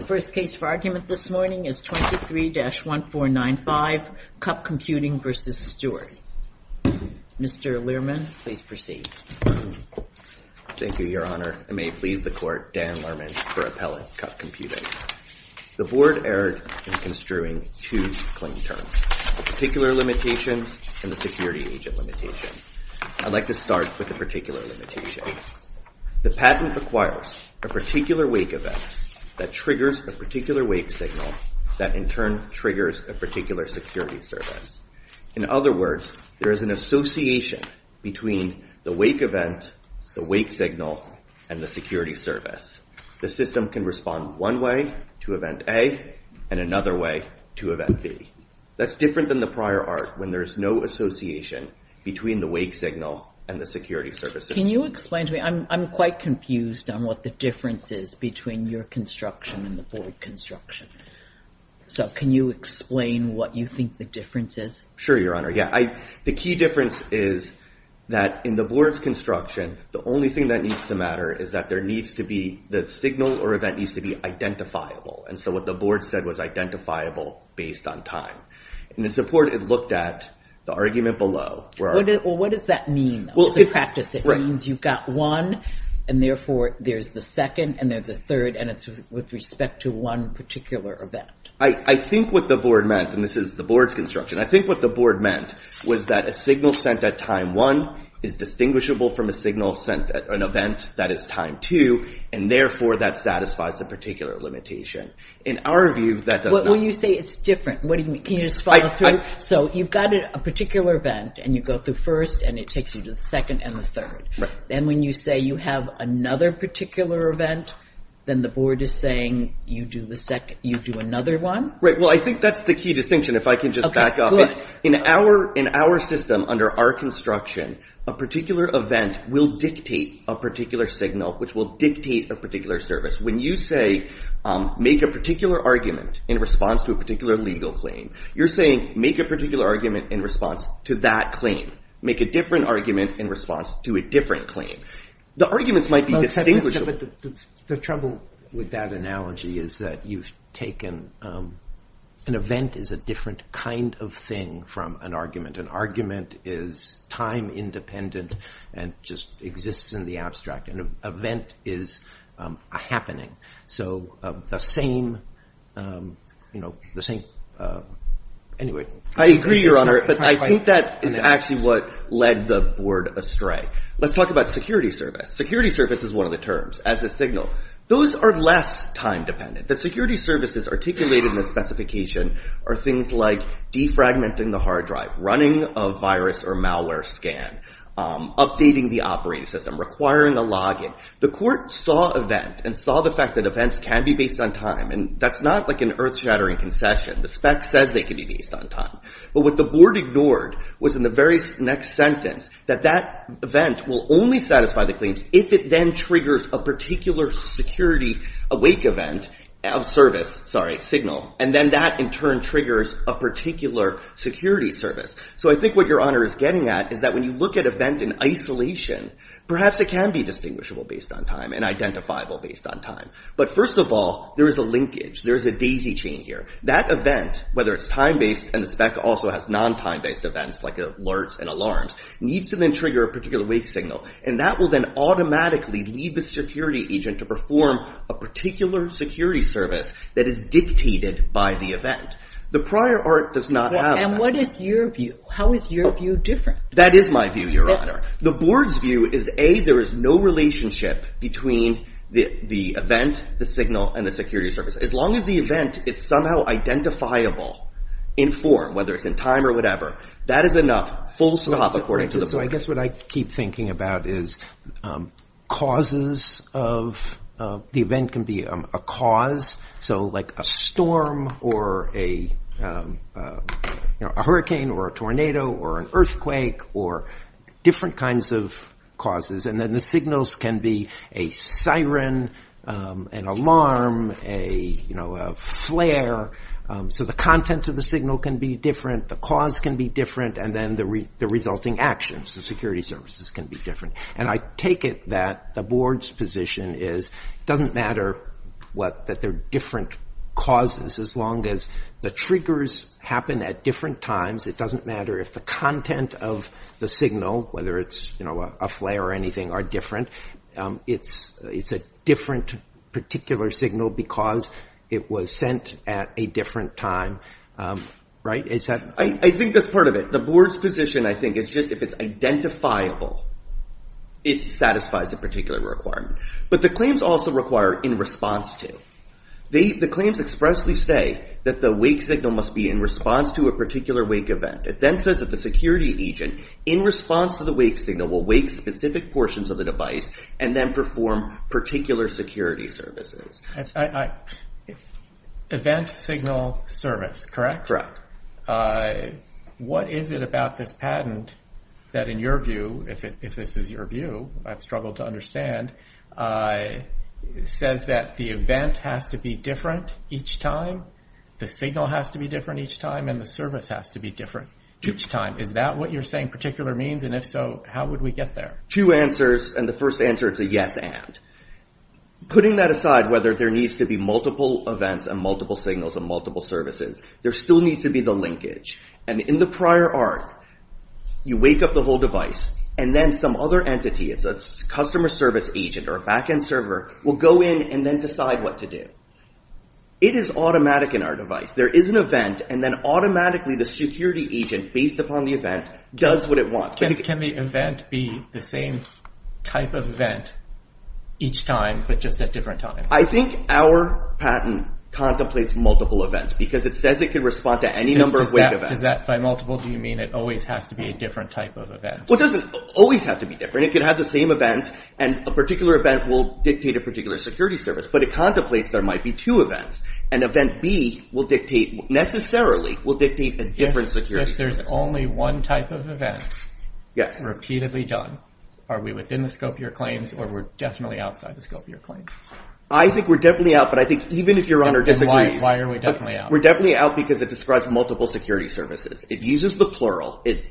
The first case for argument this morning is 23-1495, CUP Computing v. Stewart. Mr. Learman, please proceed. Thank you, Your Honor, and may it please the Court, Dan Learman for Appellant, CUP Computing. The Board erred in construing two claim terms, Particular Limitations and the Security Agent Limitation. I'd like to start with the Particular Limitation. The patent requires a particular wake event that triggers a particular wake signal that in turn triggers a particular security service. In other words, there is an association between the wake event, the wake signal, and the security service. The system can respond one way to event A and another way to event B. That's different than the prior art when there is no association between the wake signal and the security service. Can you explain to me? I'm quite confused on what the difference is between your construction and the Board construction. So can you explain what you think the difference is? Sure, Your Honor. Yeah, the key difference is that in the Board's construction, the only thing that needs to matter is that there needs to be the signal or event needs to be identifiable. And so what the Board said was identifiable based on time. And it's important to look at the argument below. What does that mean? It's a practice that means you've got one, and therefore there's the second and there's the third, and it's with respect to one particular event. I think what the Board meant, and this is the Board's construction, I think what the Board meant was that a signal sent at time one is distinguishable from a signal sent at an event that is time two, and therefore that satisfies a particular limitation. In our view, that does not... Well, when you say it's different, can you just follow through? So you've got a particular event, and you go through first and it takes you to the second and the third. Right. And when you say you have another particular event, then the Board is saying you do another one? Right. Well, I think that's the key distinction, if I can just back up. Okay, good. In our system, under our construction, a particular event will dictate a particular signal, which will dictate a particular service. When you say, make a particular argument in response to a particular legal claim, you're saying, make a particular argument in response to that claim. Make a different argument in response to a different claim. The arguments might be distinguishable. The trouble with that analogy is that you've taken... An event is a different kind of thing from an argument. An argument is time independent and just exists in the abstract. An event is a happening. So the same... Anyway. I agree, Your Honor, but I think that is actually what led the Board astray. Let's talk about security service. Security service is one of the terms, as a signal. Those are less time dependent. The security services articulated in the specification are things like defragmenting the hard drive, running a virus or malware scan, updating the operating system, requiring a login. The Court saw event and saw the fact that events can be based on time. That's not like an earth-shattering concession. The spec says they can be based on time. But what the Board ignored was in the very next sentence that that event will only satisfy the claims if it then triggers a particular security awake event, service, sorry, signal, and then that in turn triggers a particular security service. So I think what Your Honor is getting at is that when you look at event in isolation, perhaps it can be distinguishable based on time and identifiable based on time. But first of all, there is a linkage. There is a daisy chain here. That event, whether it's time-based, and the spec also has non-time-based events like alerts and alarms, needs to then trigger a particular wake signal. And that will then automatically lead the security agent to perform a particular security service that is dictated by the event. The prior art does not have that. And what is your view? How is your view different? That is my view, Your Honor. The Board's view is A, there is no relationship between the event, the signal, and the security service. As long as the event is somehow identifiable in form, whether it's in time or whatever, that is enough. Full stop according to the Board. So I guess what I keep thinking about is causes of, the event can be a cause, so like a storm or a hurricane or a tornado or an earthquake or different kinds of causes. And then the signals can be a siren, an alarm, a flare. So the content of the signal can be different. The cause can be different. And then the resulting actions, the security services, can be different. And I take it that the Board's position is it doesn't matter that there are different causes as long as the triggers happen at different times. It doesn't matter if the content of the signal, whether it's a flare or anything, are different. It's a different particular signal because it was sent at a different time, right? I think that's part of it. The Board's position, I think, is just if it's identifiable, it satisfies a particular requirement. But the claims also require in response to. The claims expressly say that the wake signal must be in response to a particular wake event. It then says that the security agent, in response to the wake signal, will wake specific portions of the device and then perform particular security services. Event, signal, service, correct? What is it about this patent that, in your view, if this is your view, I've struggled to understand, says that the event has to be different each time, the signal has to be different each time, and the service has to be different each time? Is that what you're saying particular means? And if so, how would we get there? Two answers. And the first answer, it's a yes and. Putting that aside, whether there needs to be multiple events and multiple signals and multiple services, there still needs to be the linkage. And in the prior arc, you wake up the whole device and then some other entity, it's a customer service agent or a backend server, will go in and then decide what to do. It is automatic in our device. There is an event and then automatically the security agent, based upon the event, does what it wants. Can the event be the same type of event each time, but just at different times? I think our patent contemplates multiple events because it says it can respond to any number of wake events. Does that, by multiple, do you mean it always has to be a different type of event? Well, it doesn't always have to be different. It could have the same event and a particular event will dictate a particular security service, but it contemplates there might be two events. And event B will dictate, necessarily, will dictate a different security service. If there's only one type of event, repeatedly done, are we within the scope of your claims or we're definitely outside the scope of your claims? I think we're definitely out, but I think even if your honor disagrees. Why are we definitely out? We're definitely out because it describes multiple security services. It uses the plural. It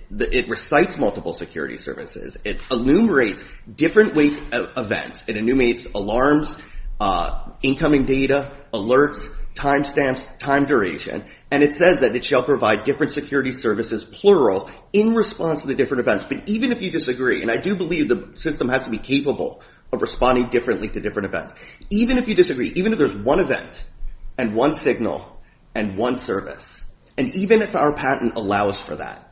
recites multiple security services. It enumerates different wake events. It enumerates alarms, incoming data, alerts, timestamps, time duration, and it says that it shall provide different security services, plural, in response to the different events. But even if you disagree, and I do believe the system has to be capable of responding differently to different events. Even if you disagree, even if there's one event and one signal and one service, and even if our patent allows for that,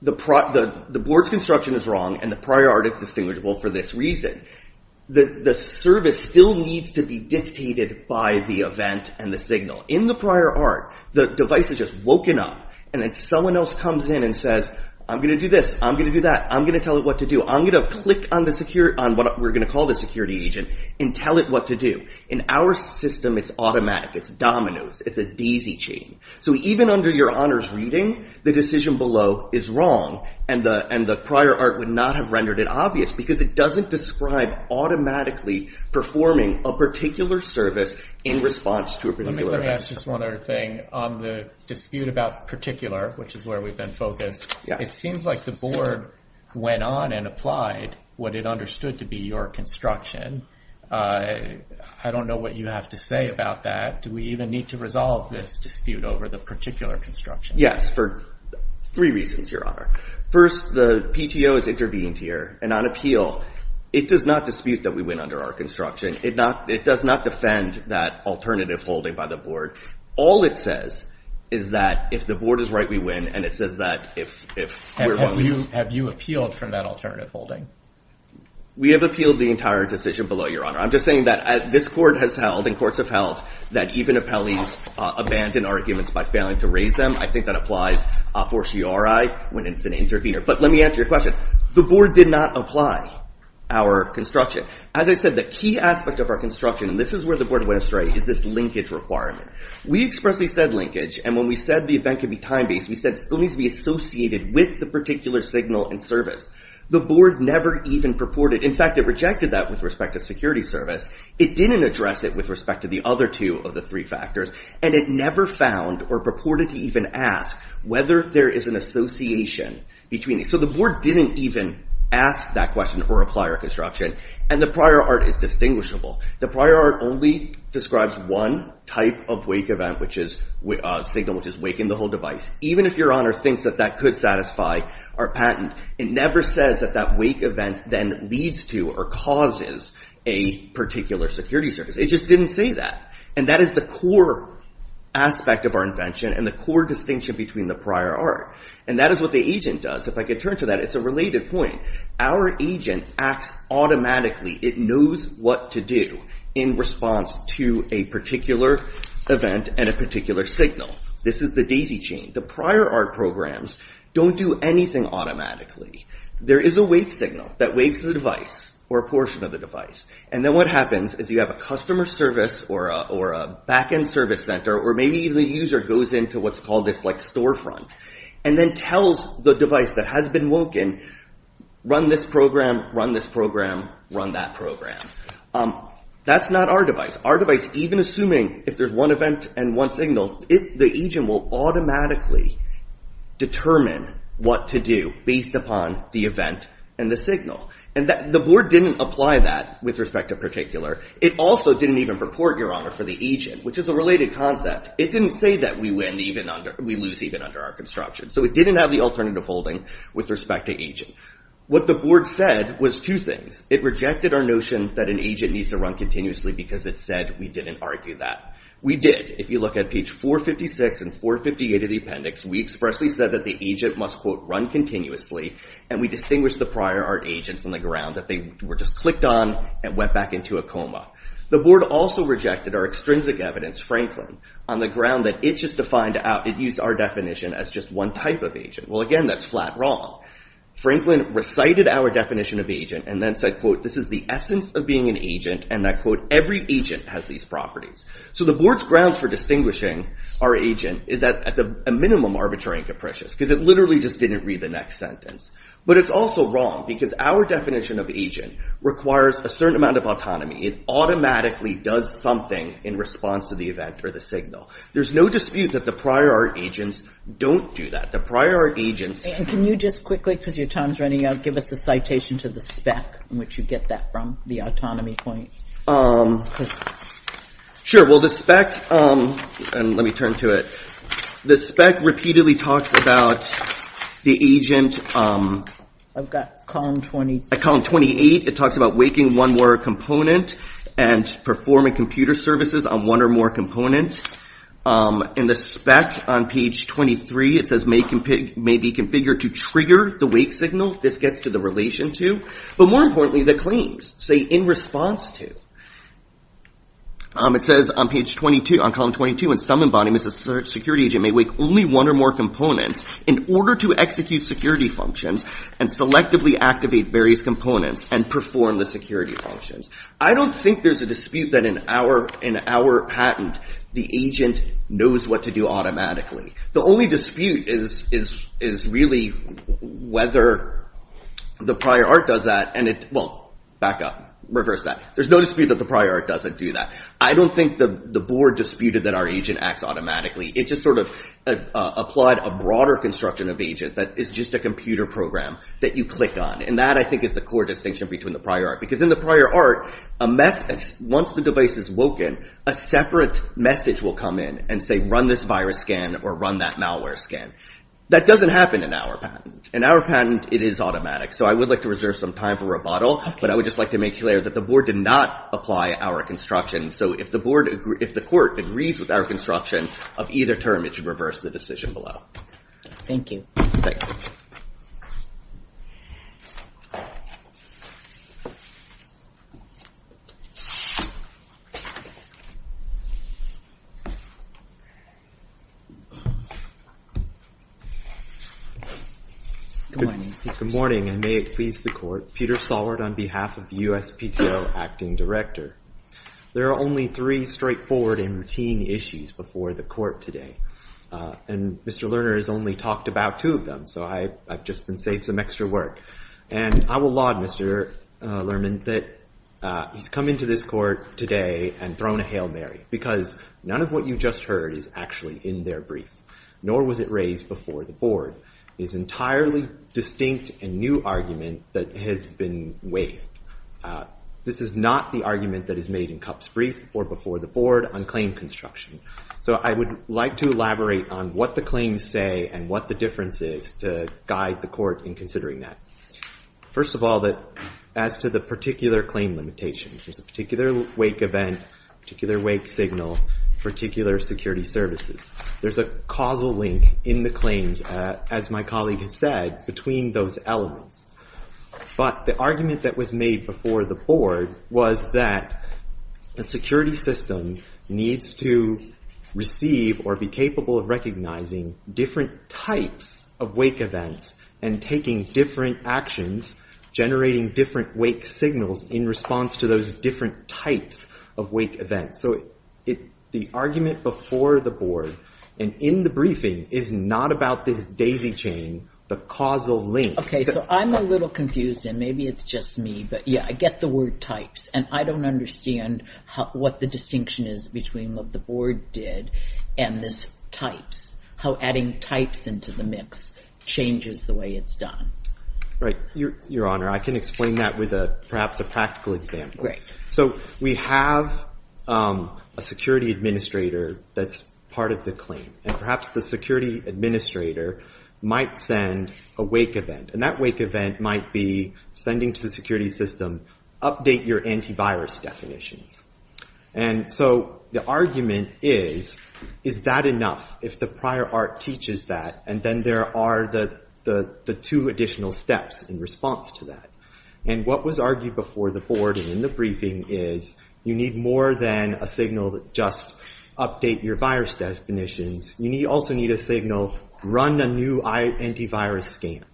the board's construction is wrong and the prior art is distinguishable for this reason. The service still needs to be dictated by the event and the signal. In the prior art, the device is just woken up and then someone else comes in and says, I'm going to do this. I'm going to do that. I'm going to tell it what to do. I'm going to click on what we're going to call the security agent and tell it what to do. In our system, it's automatic. It's dominoes. It's a daisy chain. Even under your honors reading, the decision below is wrong and the prior art would not have rendered it obvious because it doesn't describe automatically performing a particular service in response to a particular event. Let me ask just one other thing. On the dispute about particular, which is where we've been focused, it seems like the board went on and applied what it understood to be your construction. I don't know what you have to say about that. Do we even need to resolve this dispute over the particular construction? Yes, for three reasons, your honor. First, the PTO has intervened here and on appeal, it does not dispute that we went under our construction. It does not defend that alternative holding by the board. All it says is that if the board is right, we win and it says that if we're wrong, we Have you appealed from that alternative holding? We have appealed the entire decision below, your honor. I'm just saying that this court has held and courts have held that even appellees abandon arguments by failing to raise them. I think that applies for CRI when it's an intervener. But let me answer your question. The board did not apply our construction. As I said, the key aspect of our construction, and this is where the board went astray, is this linkage requirement. We expressly said linkage, and when we said the event could be time-based, we said it still needs to be associated with the particular signal and service. The board never even purported, in fact, it rejected that with respect to security service. It didn't address it with respect to the other two of the three factors, and it never found or purported to even ask whether there is an association between these. So the board didn't even ask that question or apply our construction, and the prior art is distinguishable. The prior art only describes one type of wake event, which is a signal, which is waking the whole device. Even if your honor thinks that that could satisfy our patent, it never says that that wake event then leads to or causes a particular security service. It just didn't say that. And that is the core aspect of our invention and the core distinction between the prior art. And that is what the agent does. If I could turn to that, it's a related point. Our agent acts automatically. It knows what to do in response to a particular event and a particular signal. This is the daisy chain. The prior art programs don't do anything automatically. There is a wake signal that wakes the device or a portion of the device, and then what happens is you have a customer service or a back-end service center, or maybe the user goes into what's called this storefront, and then tells the device that has been woken, run this program, run this program, run that program. That's not our device. Our device, even assuming if there's one event and one signal, the agent will automatically determine what to do based upon the event and the signal. And the board didn't apply that with respect to particular. It also didn't even purport, your honor, for the agent, which is a related concept. It didn't say that we lose even under our construction. So it didn't have the alternative holding with respect to agent. What the board said was two things. It rejected our notion that an agent needs to run continuously because it said we didn't argue that. We did. If you look at page 456 and 458 of the appendix, we expressly said that the agent must quote run continuously, and we distinguished the prior art agents on the ground that they were just clicked on and went back into a coma. The board also rejected our extrinsic evidence, Franklin, on the ground that it just defined our definition as just one type of agent. Well, again, that's flat wrong. Franklin recited our definition of agent and then said, quote, this is the essence of being an agent and that, quote, every agent has these properties. So the board's grounds for distinguishing our agent is at a minimum arbitrary and capricious because it literally just didn't read the next sentence. But it's also wrong because our definition of the agent requires a certain amount of It automatically does something in response to the event or the signal. There's no dispute that the prior art agents don't do that. The prior art agents... And can you just quickly, because your time's running out, give us a citation to the spec in which you get that from, the autonomy point. Sure. Well, the spec, and let me turn to it. The spec repeatedly talks about the agent. I've got column 28. At column 28, it talks about waking one more component and performing computer services on one or more components. In the spec on page 23, it says, may be configured to trigger the wake signal. This gets to the relation to, but more importantly, the claims, say, in response to. It says on page 22, on column 22, in some embodiments, a security agent may wake only one or more components in order to execute security functions and selectively activate various components and perform the security functions. I don't think there's a dispute that in our patent, the agent knows what to do automatically. The only dispute is really whether the prior art does that, and it... Well, back up. Reverse that. There's no dispute that the prior art doesn't do that. I don't think the board disputed that our agent acts automatically. It just sort of applied a broader construction of agent that is just a computer program that you click on. That, I think, is the core distinction between the prior art. Because in the prior art, once the device is woken, a separate message will come in and say, run this virus scan or run that malware scan. That doesn't happen in our patent. In our patent, it is automatic. So I would like to reserve some time for rebuttal, but I would just like to make clear that the board did not apply our construction. So if the court agrees with our construction of either term, it should reverse the decision below. Thank you. Thanks. Good morning. Good morning, and may it please the court. Peter Sollard on behalf of the USPTO Acting Director. There are only three straightforward and routine issues before the court today, and Mr. Lerner has only talked about two of them. So I've just been saved some extra work. And I will laud Mr. Lerner that he's come into this court today and thrown a Hail Mary because none of what you just heard is actually in their brief, nor was it raised before the It is an entirely distinct and new argument that has been waived. This is not the argument that is made in Kupp's brief or before the board on claim construction. So I would like to elaborate on what the claims say and what the difference is to guide the court in considering that. First of all, as to the particular claim limitations, there's a particular wake event, particular wake signal, particular security services. There's a causal link in the claims, as my colleague has said, between those elements. But the argument that was made before the board was that a security system needs to receive or be capable of recognizing different types of wake events and taking different actions, generating different wake signals in response to those different types of wake events. So the argument before the board and in the briefing is not about this daisy chain, the causal link. Okay, so I'm a little confused and maybe it's just me, but yeah, I get the word types and I don't understand what the distinction is between what the board did and this types, how adding types into the mix changes the way it's done. Right. Your Honor, I can explain that with perhaps a practical example. So we have a security administrator that's part of the claim and perhaps the security administrator might send a wake event and that wake event might be sending to the security system, update your antivirus definitions. And so the argument is, is that enough? If the prior art teaches that, and then there are the two additional steps in response to that. And what was argued before the board and in the briefing is you need more than a signal that just update your virus definitions. You also need a signal, run a new antivirus scan.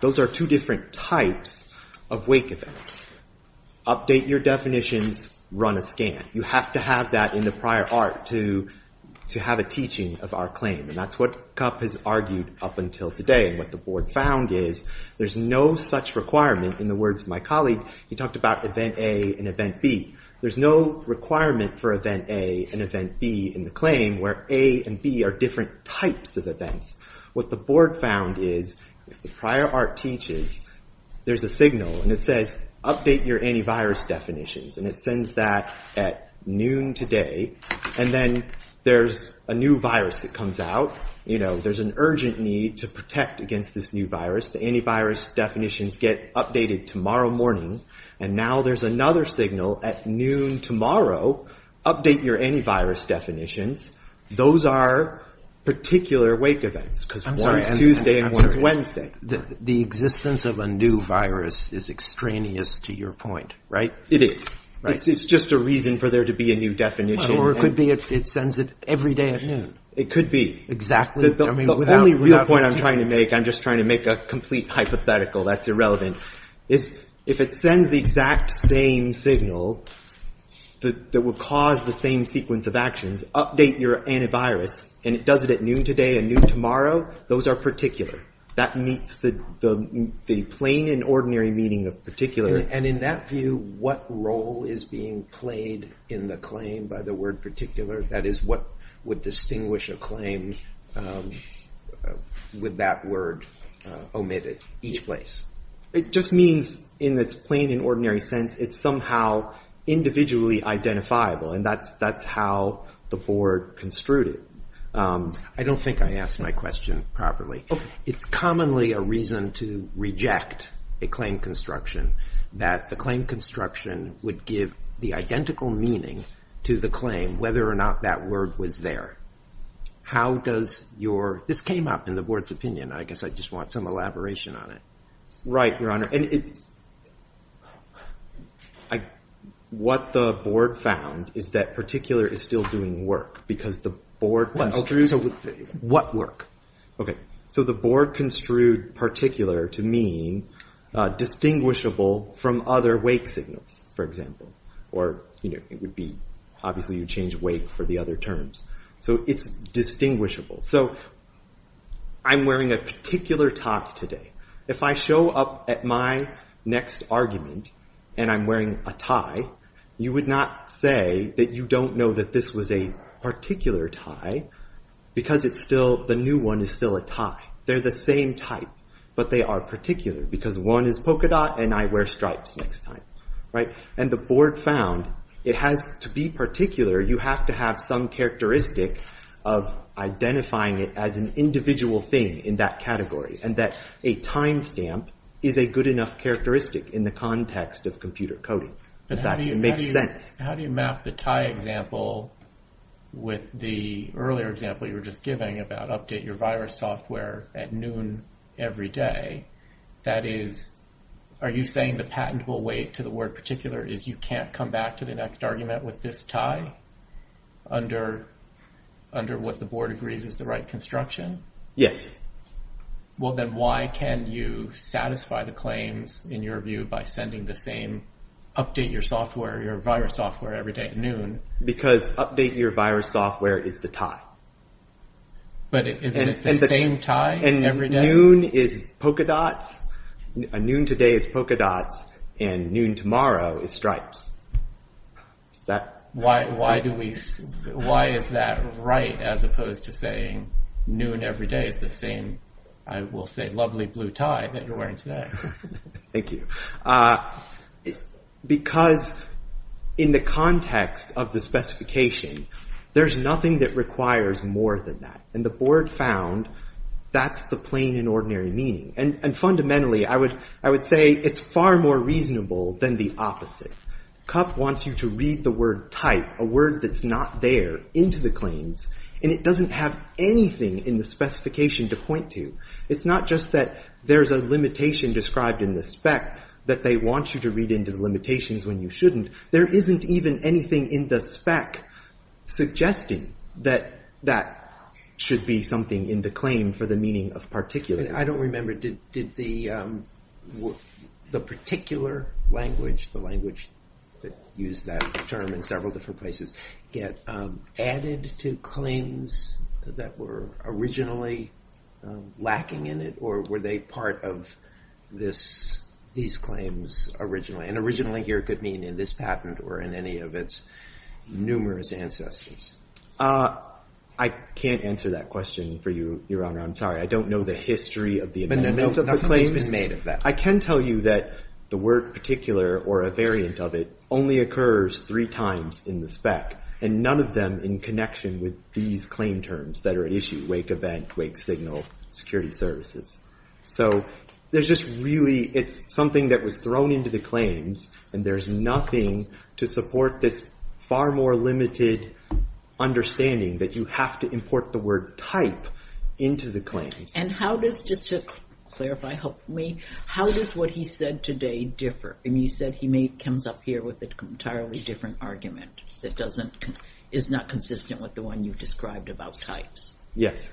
Those are two different types of wake events. Update your definitions, run a scan. You have to have that in the prior art to have a teaching of our claim. And that's what Kupp has argued up until today. And what the board found is there's no such requirement in the words of my colleague, he talked about event A and event B. There's no requirement for event A and event B in the claim where A and B are different types of events. What the board found is if the prior art teaches, there's a signal and it says, update your antivirus definitions. And it sends that at noon today. And then there's a new virus that comes out. You know, there's an urgent need to protect against this new virus. The antivirus definitions get updated tomorrow morning. And now there's another signal at noon tomorrow. Update your antivirus definitions. Those are particular wake events because one's Tuesday and one's Wednesday. The existence of a new virus is extraneous to your point, right? It is. It's just a reason for there to be a new definition. Or it could be it sends it every day at noon. It could be. Exactly. The only real point I'm trying to make, I'm just trying to make a complete hypothetical that's irrelevant. If it sends the exact same signal that will cause the same sequence of actions, update your antivirus, and it does it at noon today and noon tomorrow, those are particular. That meets the plain and ordinary meaning of particular. And in that view, what role is being played in the claim by the word particular? That is, what would distinguish a claim with that word omitted each place? It just means in its plain and ordinary sense, it's somehow individually identifiable. And that's how the board construed it. I don't think I asked my question properly. It's commonly a reason to reject a claim construction that the claim construction would give the identical meaning to the claim, whether or not that word was there. How does your, this came up in the board's opinion. I guess I just want some elaboration on it. Right, your honor. What the board found is that particular is still doing work because the board. What work? Okay. So the board construed particular to mean distinguishable from other wake signals, for example. Or, you know, it would be obviously you change wake for the other terms. So it's distinguishable. So I'm wearing a particular tie today. If I show up at my next argument and I'm wearing a tie, you would not say that you don't know that this was a particular tie because it's still the new one is still a tie. They're the same type, but they are particular because one is polka dot and I wear stripes next time. Right. And the board found it has to be particular. You have to have some characteristic of identifying it as an individual thing in that category and that a timestamp is a good enough characteristic in the context of computer coding. In fact, it makes sense. How do you map the tie example with the earlier example you were just giving about update your virus software at noon every day? That is, are you saying the patentable weight to the word particular is you can't come back to the next argument with this tie under what the board agrees is the right construction? Yes. Well, then why can you satisfy the claims in your view by sending the same update your software, your virus software every day at noon? Because update your virus software is the tie. But is it the same tie every day? Noon today is polka dots and noon tomorrow is stripes. Why is that right as opposed to saying noon every day is the same, I will say, lovely blue tie that you're wearing today? Thank you. Because in the context of the specification, there's nothing that requires more than that. And the board found that's the plain and ordinary meaning. And fundamentally, I would say it's far more reasonable than the opposite. CUP wants you to read the word type, a word that's not there, into the claims, and it doesn't have anything in the specification to point to. It's not just that there's a limitation described in the spec that they want you to read into the limitations when you shouldn't. There isn't even anything in the spec suggesting that that should be something in the claim for the meaning of particular. I don't remember, did the particular language, the language that used that term in several different places, get added to claims that were originally lacking in it? Or were they part of these claims originally? And originally here could mean in this patent or in any of its numerous ancestors. I can't answer that question for you, Your Honor. I'm sorry. I don't know the history of the amendment of the claims. I can tell you that the word particular or a variant of it only occurs three times in the spec. And none of them in connection with these claim terms that are at issue, wake event, wake signal, security services. So there's just really, it's something that was thrown into the claims and there's nothing to support this far more limited understanding that you have to import the word type into the claims. And how does, just to clarify, help me, how does what he said today differ? I mean, you said he comes up here with an entirely different argument that is not consistent with the one you described about types. Yes.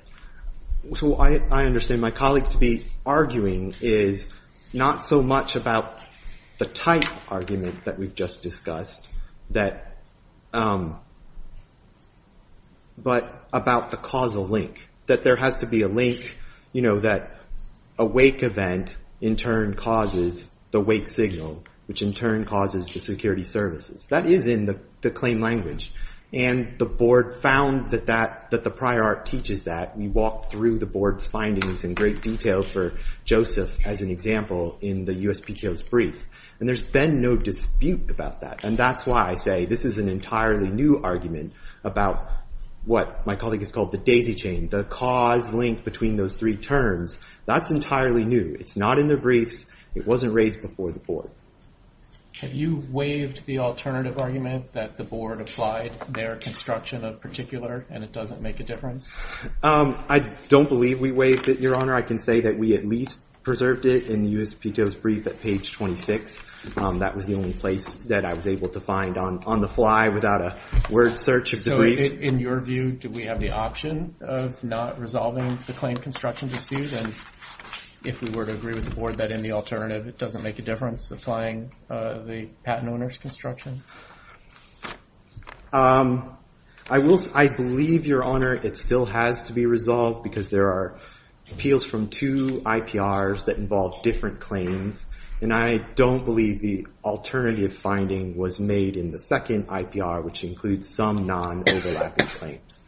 So I understand my colleague to be arguing is not so much about the type argument that we've just discussed, but about the causal link. That there has to be a link, that a wake event in turn causes the wake signal, which in turn causes the security services. That is in the claim language. And the board found that the prior art teaches that. We walked through the board's findings in great detail for Joseph as an example in the USPTO's brief. And there's been no dispute about that. And that's why I say this is an entirely new argument about what my colleague has called the daisy chain, the cause link between those three terms. That's entirely new. It's not in the briefs. It wasn't raised before the board. Have you waived the alternative argument that the board applied their construction of particular and it doesn't make a difference? I don't believe we waived it, Your Honor. I can say that we at least preserved it in the USPTO's brief at page 26. That was the only place that I was able to find on the fly without a word search of the So in your view, do we have the option of not resolving the claim construction dispute? And if we were to agree with the board that in the alternative it doesn't make a difference, applying the patent owner's construction? I believe, Your Honor, it still has to be resolved because there are appeals from two IPRs that involve different claims. And I don't believe the alternative finding was made in the second IPR, which includes some non-overlapping claims.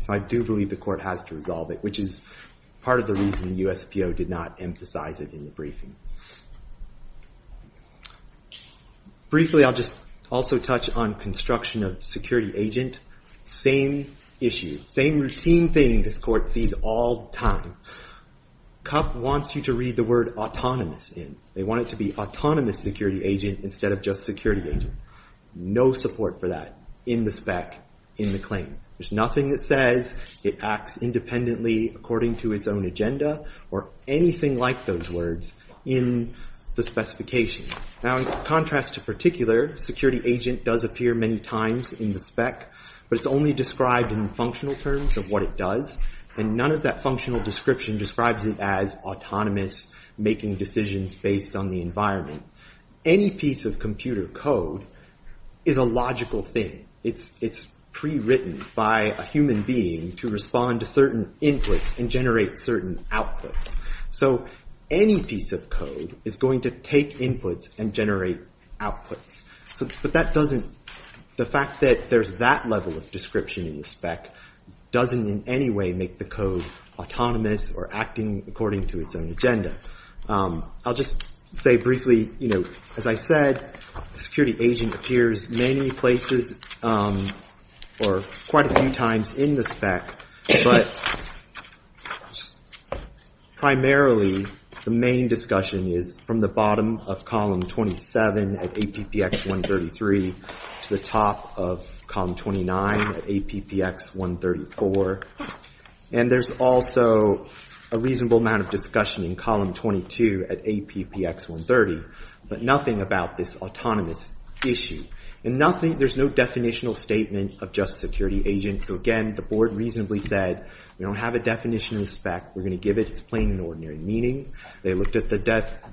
So I do believe the court has to resolve it, which is part of the reason the USPTO did not emphasize it in the briefing. Briefly I'll just also touch on construction of security agent. Same issue, same routine thing this court sees all time. CUP wants you to read the word autonomous in. They want it to be autonomous security agent instead of just security agent. No support for that in the spec, in the claim. There's nothing that says it acts independently according to its own agenda or anything like those words in the specification. Now in contrast to particular, security agent does appear many times in the spec, but it's only described in functional terms of what it does, and none of that functional description describes it as autonomous, making decisions based on the environment. Any piece of computer code is a logical thing. It's pre-written by a human being to respond to certain inputs and generate certain outputs. So any piece of code is going to take inputs and generate outputs. The fact that there's that level of description in the spec doesn't in any way make the code autonomous or acting according to its own agenda. I'll just say briefly, as I said, security agent appears many places or quite a few times in the spec, but primarily the main discussion is from the bottom of column 27 of APPX 133 to the top of column 29 of APPX 134. And there's also a reasonable amount of discussion in column 22 at APPX 130, but nothing about this autonomous issue. There's no definitional statement of just security agent, so again, the board reasonably said we don't have a definition in the spec, we're going to give it its plain and ordinary meaning. They looked at the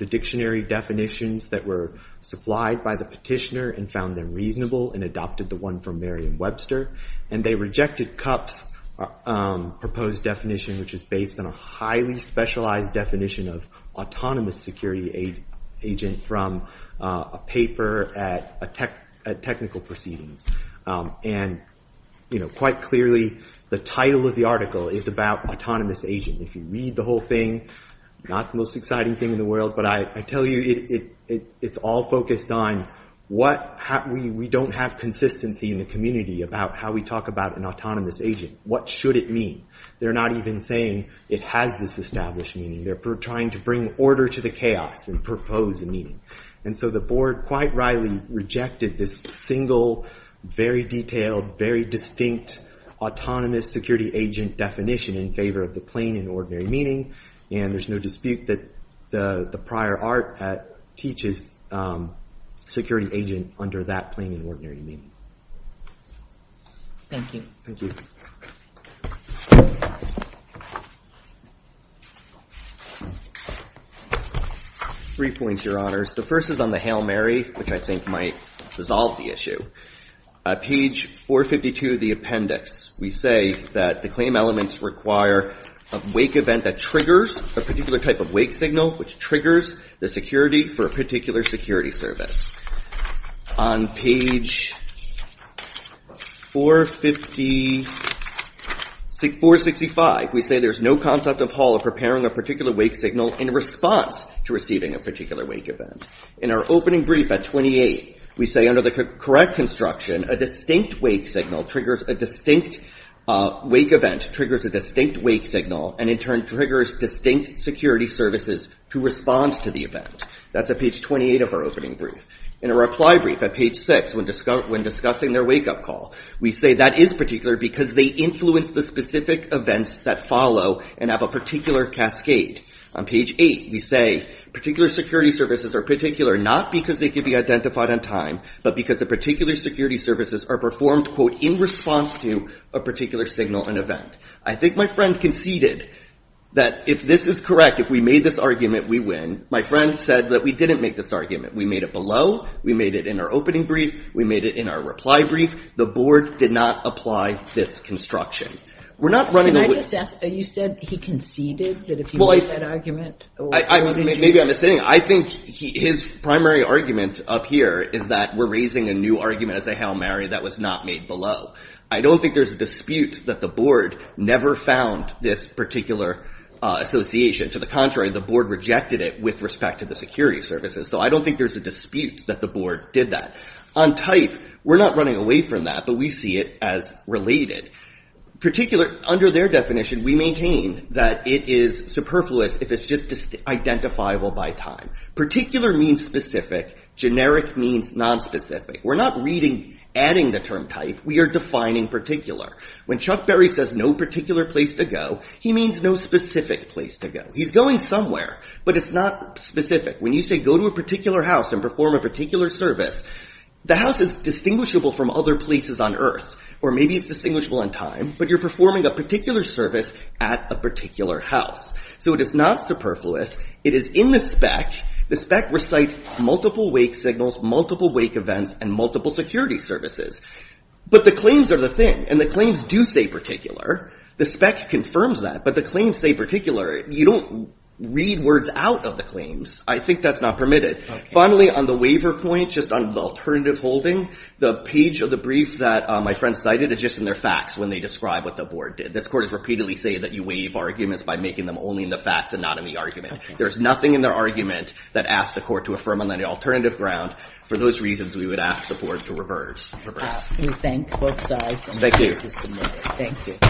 dictionary definitions that were supplied by the petitioner and found them reasonable and adopted the one from Merriam-Webster. They rejected CUP's proposed definition, which is based on a highly specialized definition of autonomous security agent from a paper at Technical Proceedings. Quite clearly, the title of the article is about autonomous agent. If you read the whole thing, not the most exciting thing in the world, but I tell you it's all focused on we don't have consistency in the community about how we talk about an autonomous agent. What should it mean? They're not even saying it has this established meaning. They're trying to bring order to the chaos and propose a meaning. And so the board quite rightly rejected this single, very detailed, very distinct autonomous security agent definition in favor of the plain and ordinary meaning, and there's no dispute that the prior art teaches security agent under that plain and ordinary meaning. Thank you. Thank you. Three points, Your Honors. The first is on the Hail Mary, which I think might resolve the issue. Page 452 of the appendix, we say that the claim elements require a wake event that triggers a particular type of wake signal, which triggers the security for a particular security service. On page 465, we say there's no concept of Hall of preparing a particular wake signal in response to receiving a particular wake event. In our opening brief at 28, we say under the correct construction, a distinct wake event triggers a distinct wake signal and in turn triggers distinct security services to respond to the event. That's at page 28 of our opening brief. In a reply brief at page 6, when discussing their wake up call, we say that is particular because they influence the specific events that follow and have a particular cascade. On page 8, we say particular security services are particular not because they can be identified on time, but because the particular security services are performed, quote, in response to a particular signal and event. I think my friend conceded that if this is correct, if we made this argument, we win. My friend said that we didn't make this argument. We made it below. We made it in our opening brief. We made it in our reply brief. The board did not apply this construction. We're not running away. Can I just ask, you said he conceded that if he made that argument, or what did you Maybe I'm misstating. I think his primary argument up here is that we're raising a new argument as a Hail Mary that was not made below. I don't think there's a dispute that the board never found this particular association. To the contrary, the board rejected it with respect to the security services. So I don't think there's a dispute that the board did that. On type, we're not running away from that, but we see it as related. Particular under their definition, we maintain that it is superfluous if it's just identifiable by time. Particular means specific. Generic means nonspecific. We're not reading, adding the term type. We are defining particular. When Chuck Berry says no particular place to go, he means no specific place to go. He's going somewhere, but it's not specific. When you say go to a particular house and perform a particular service, the house is distinguishable from other places on earth. Or maybe it's distinguishable in time, but you're performing a particular service at a particular house. So it is not superfluous. It is in the spec. The spec recites multiple wake signals, multiple wake events, and multiple security services. But the claims are the thing, and the claims do say particular. The spec confirms that, but the claims say particular. You don't read words out of the claims. I think that's not permitted. Finally, on the waiver point, just on the alternative holding, the page of the brief that my friend cited is just in their facts when they describe what the board did. This court has repeatedly said that you waive arguments by making them only in the facts and not in the argument. There is nothing in their argument that asks the court to affirm on any alternative ground. For those reasons, we would ask the board to reverse. We thank both sides. Thank you. Thank you.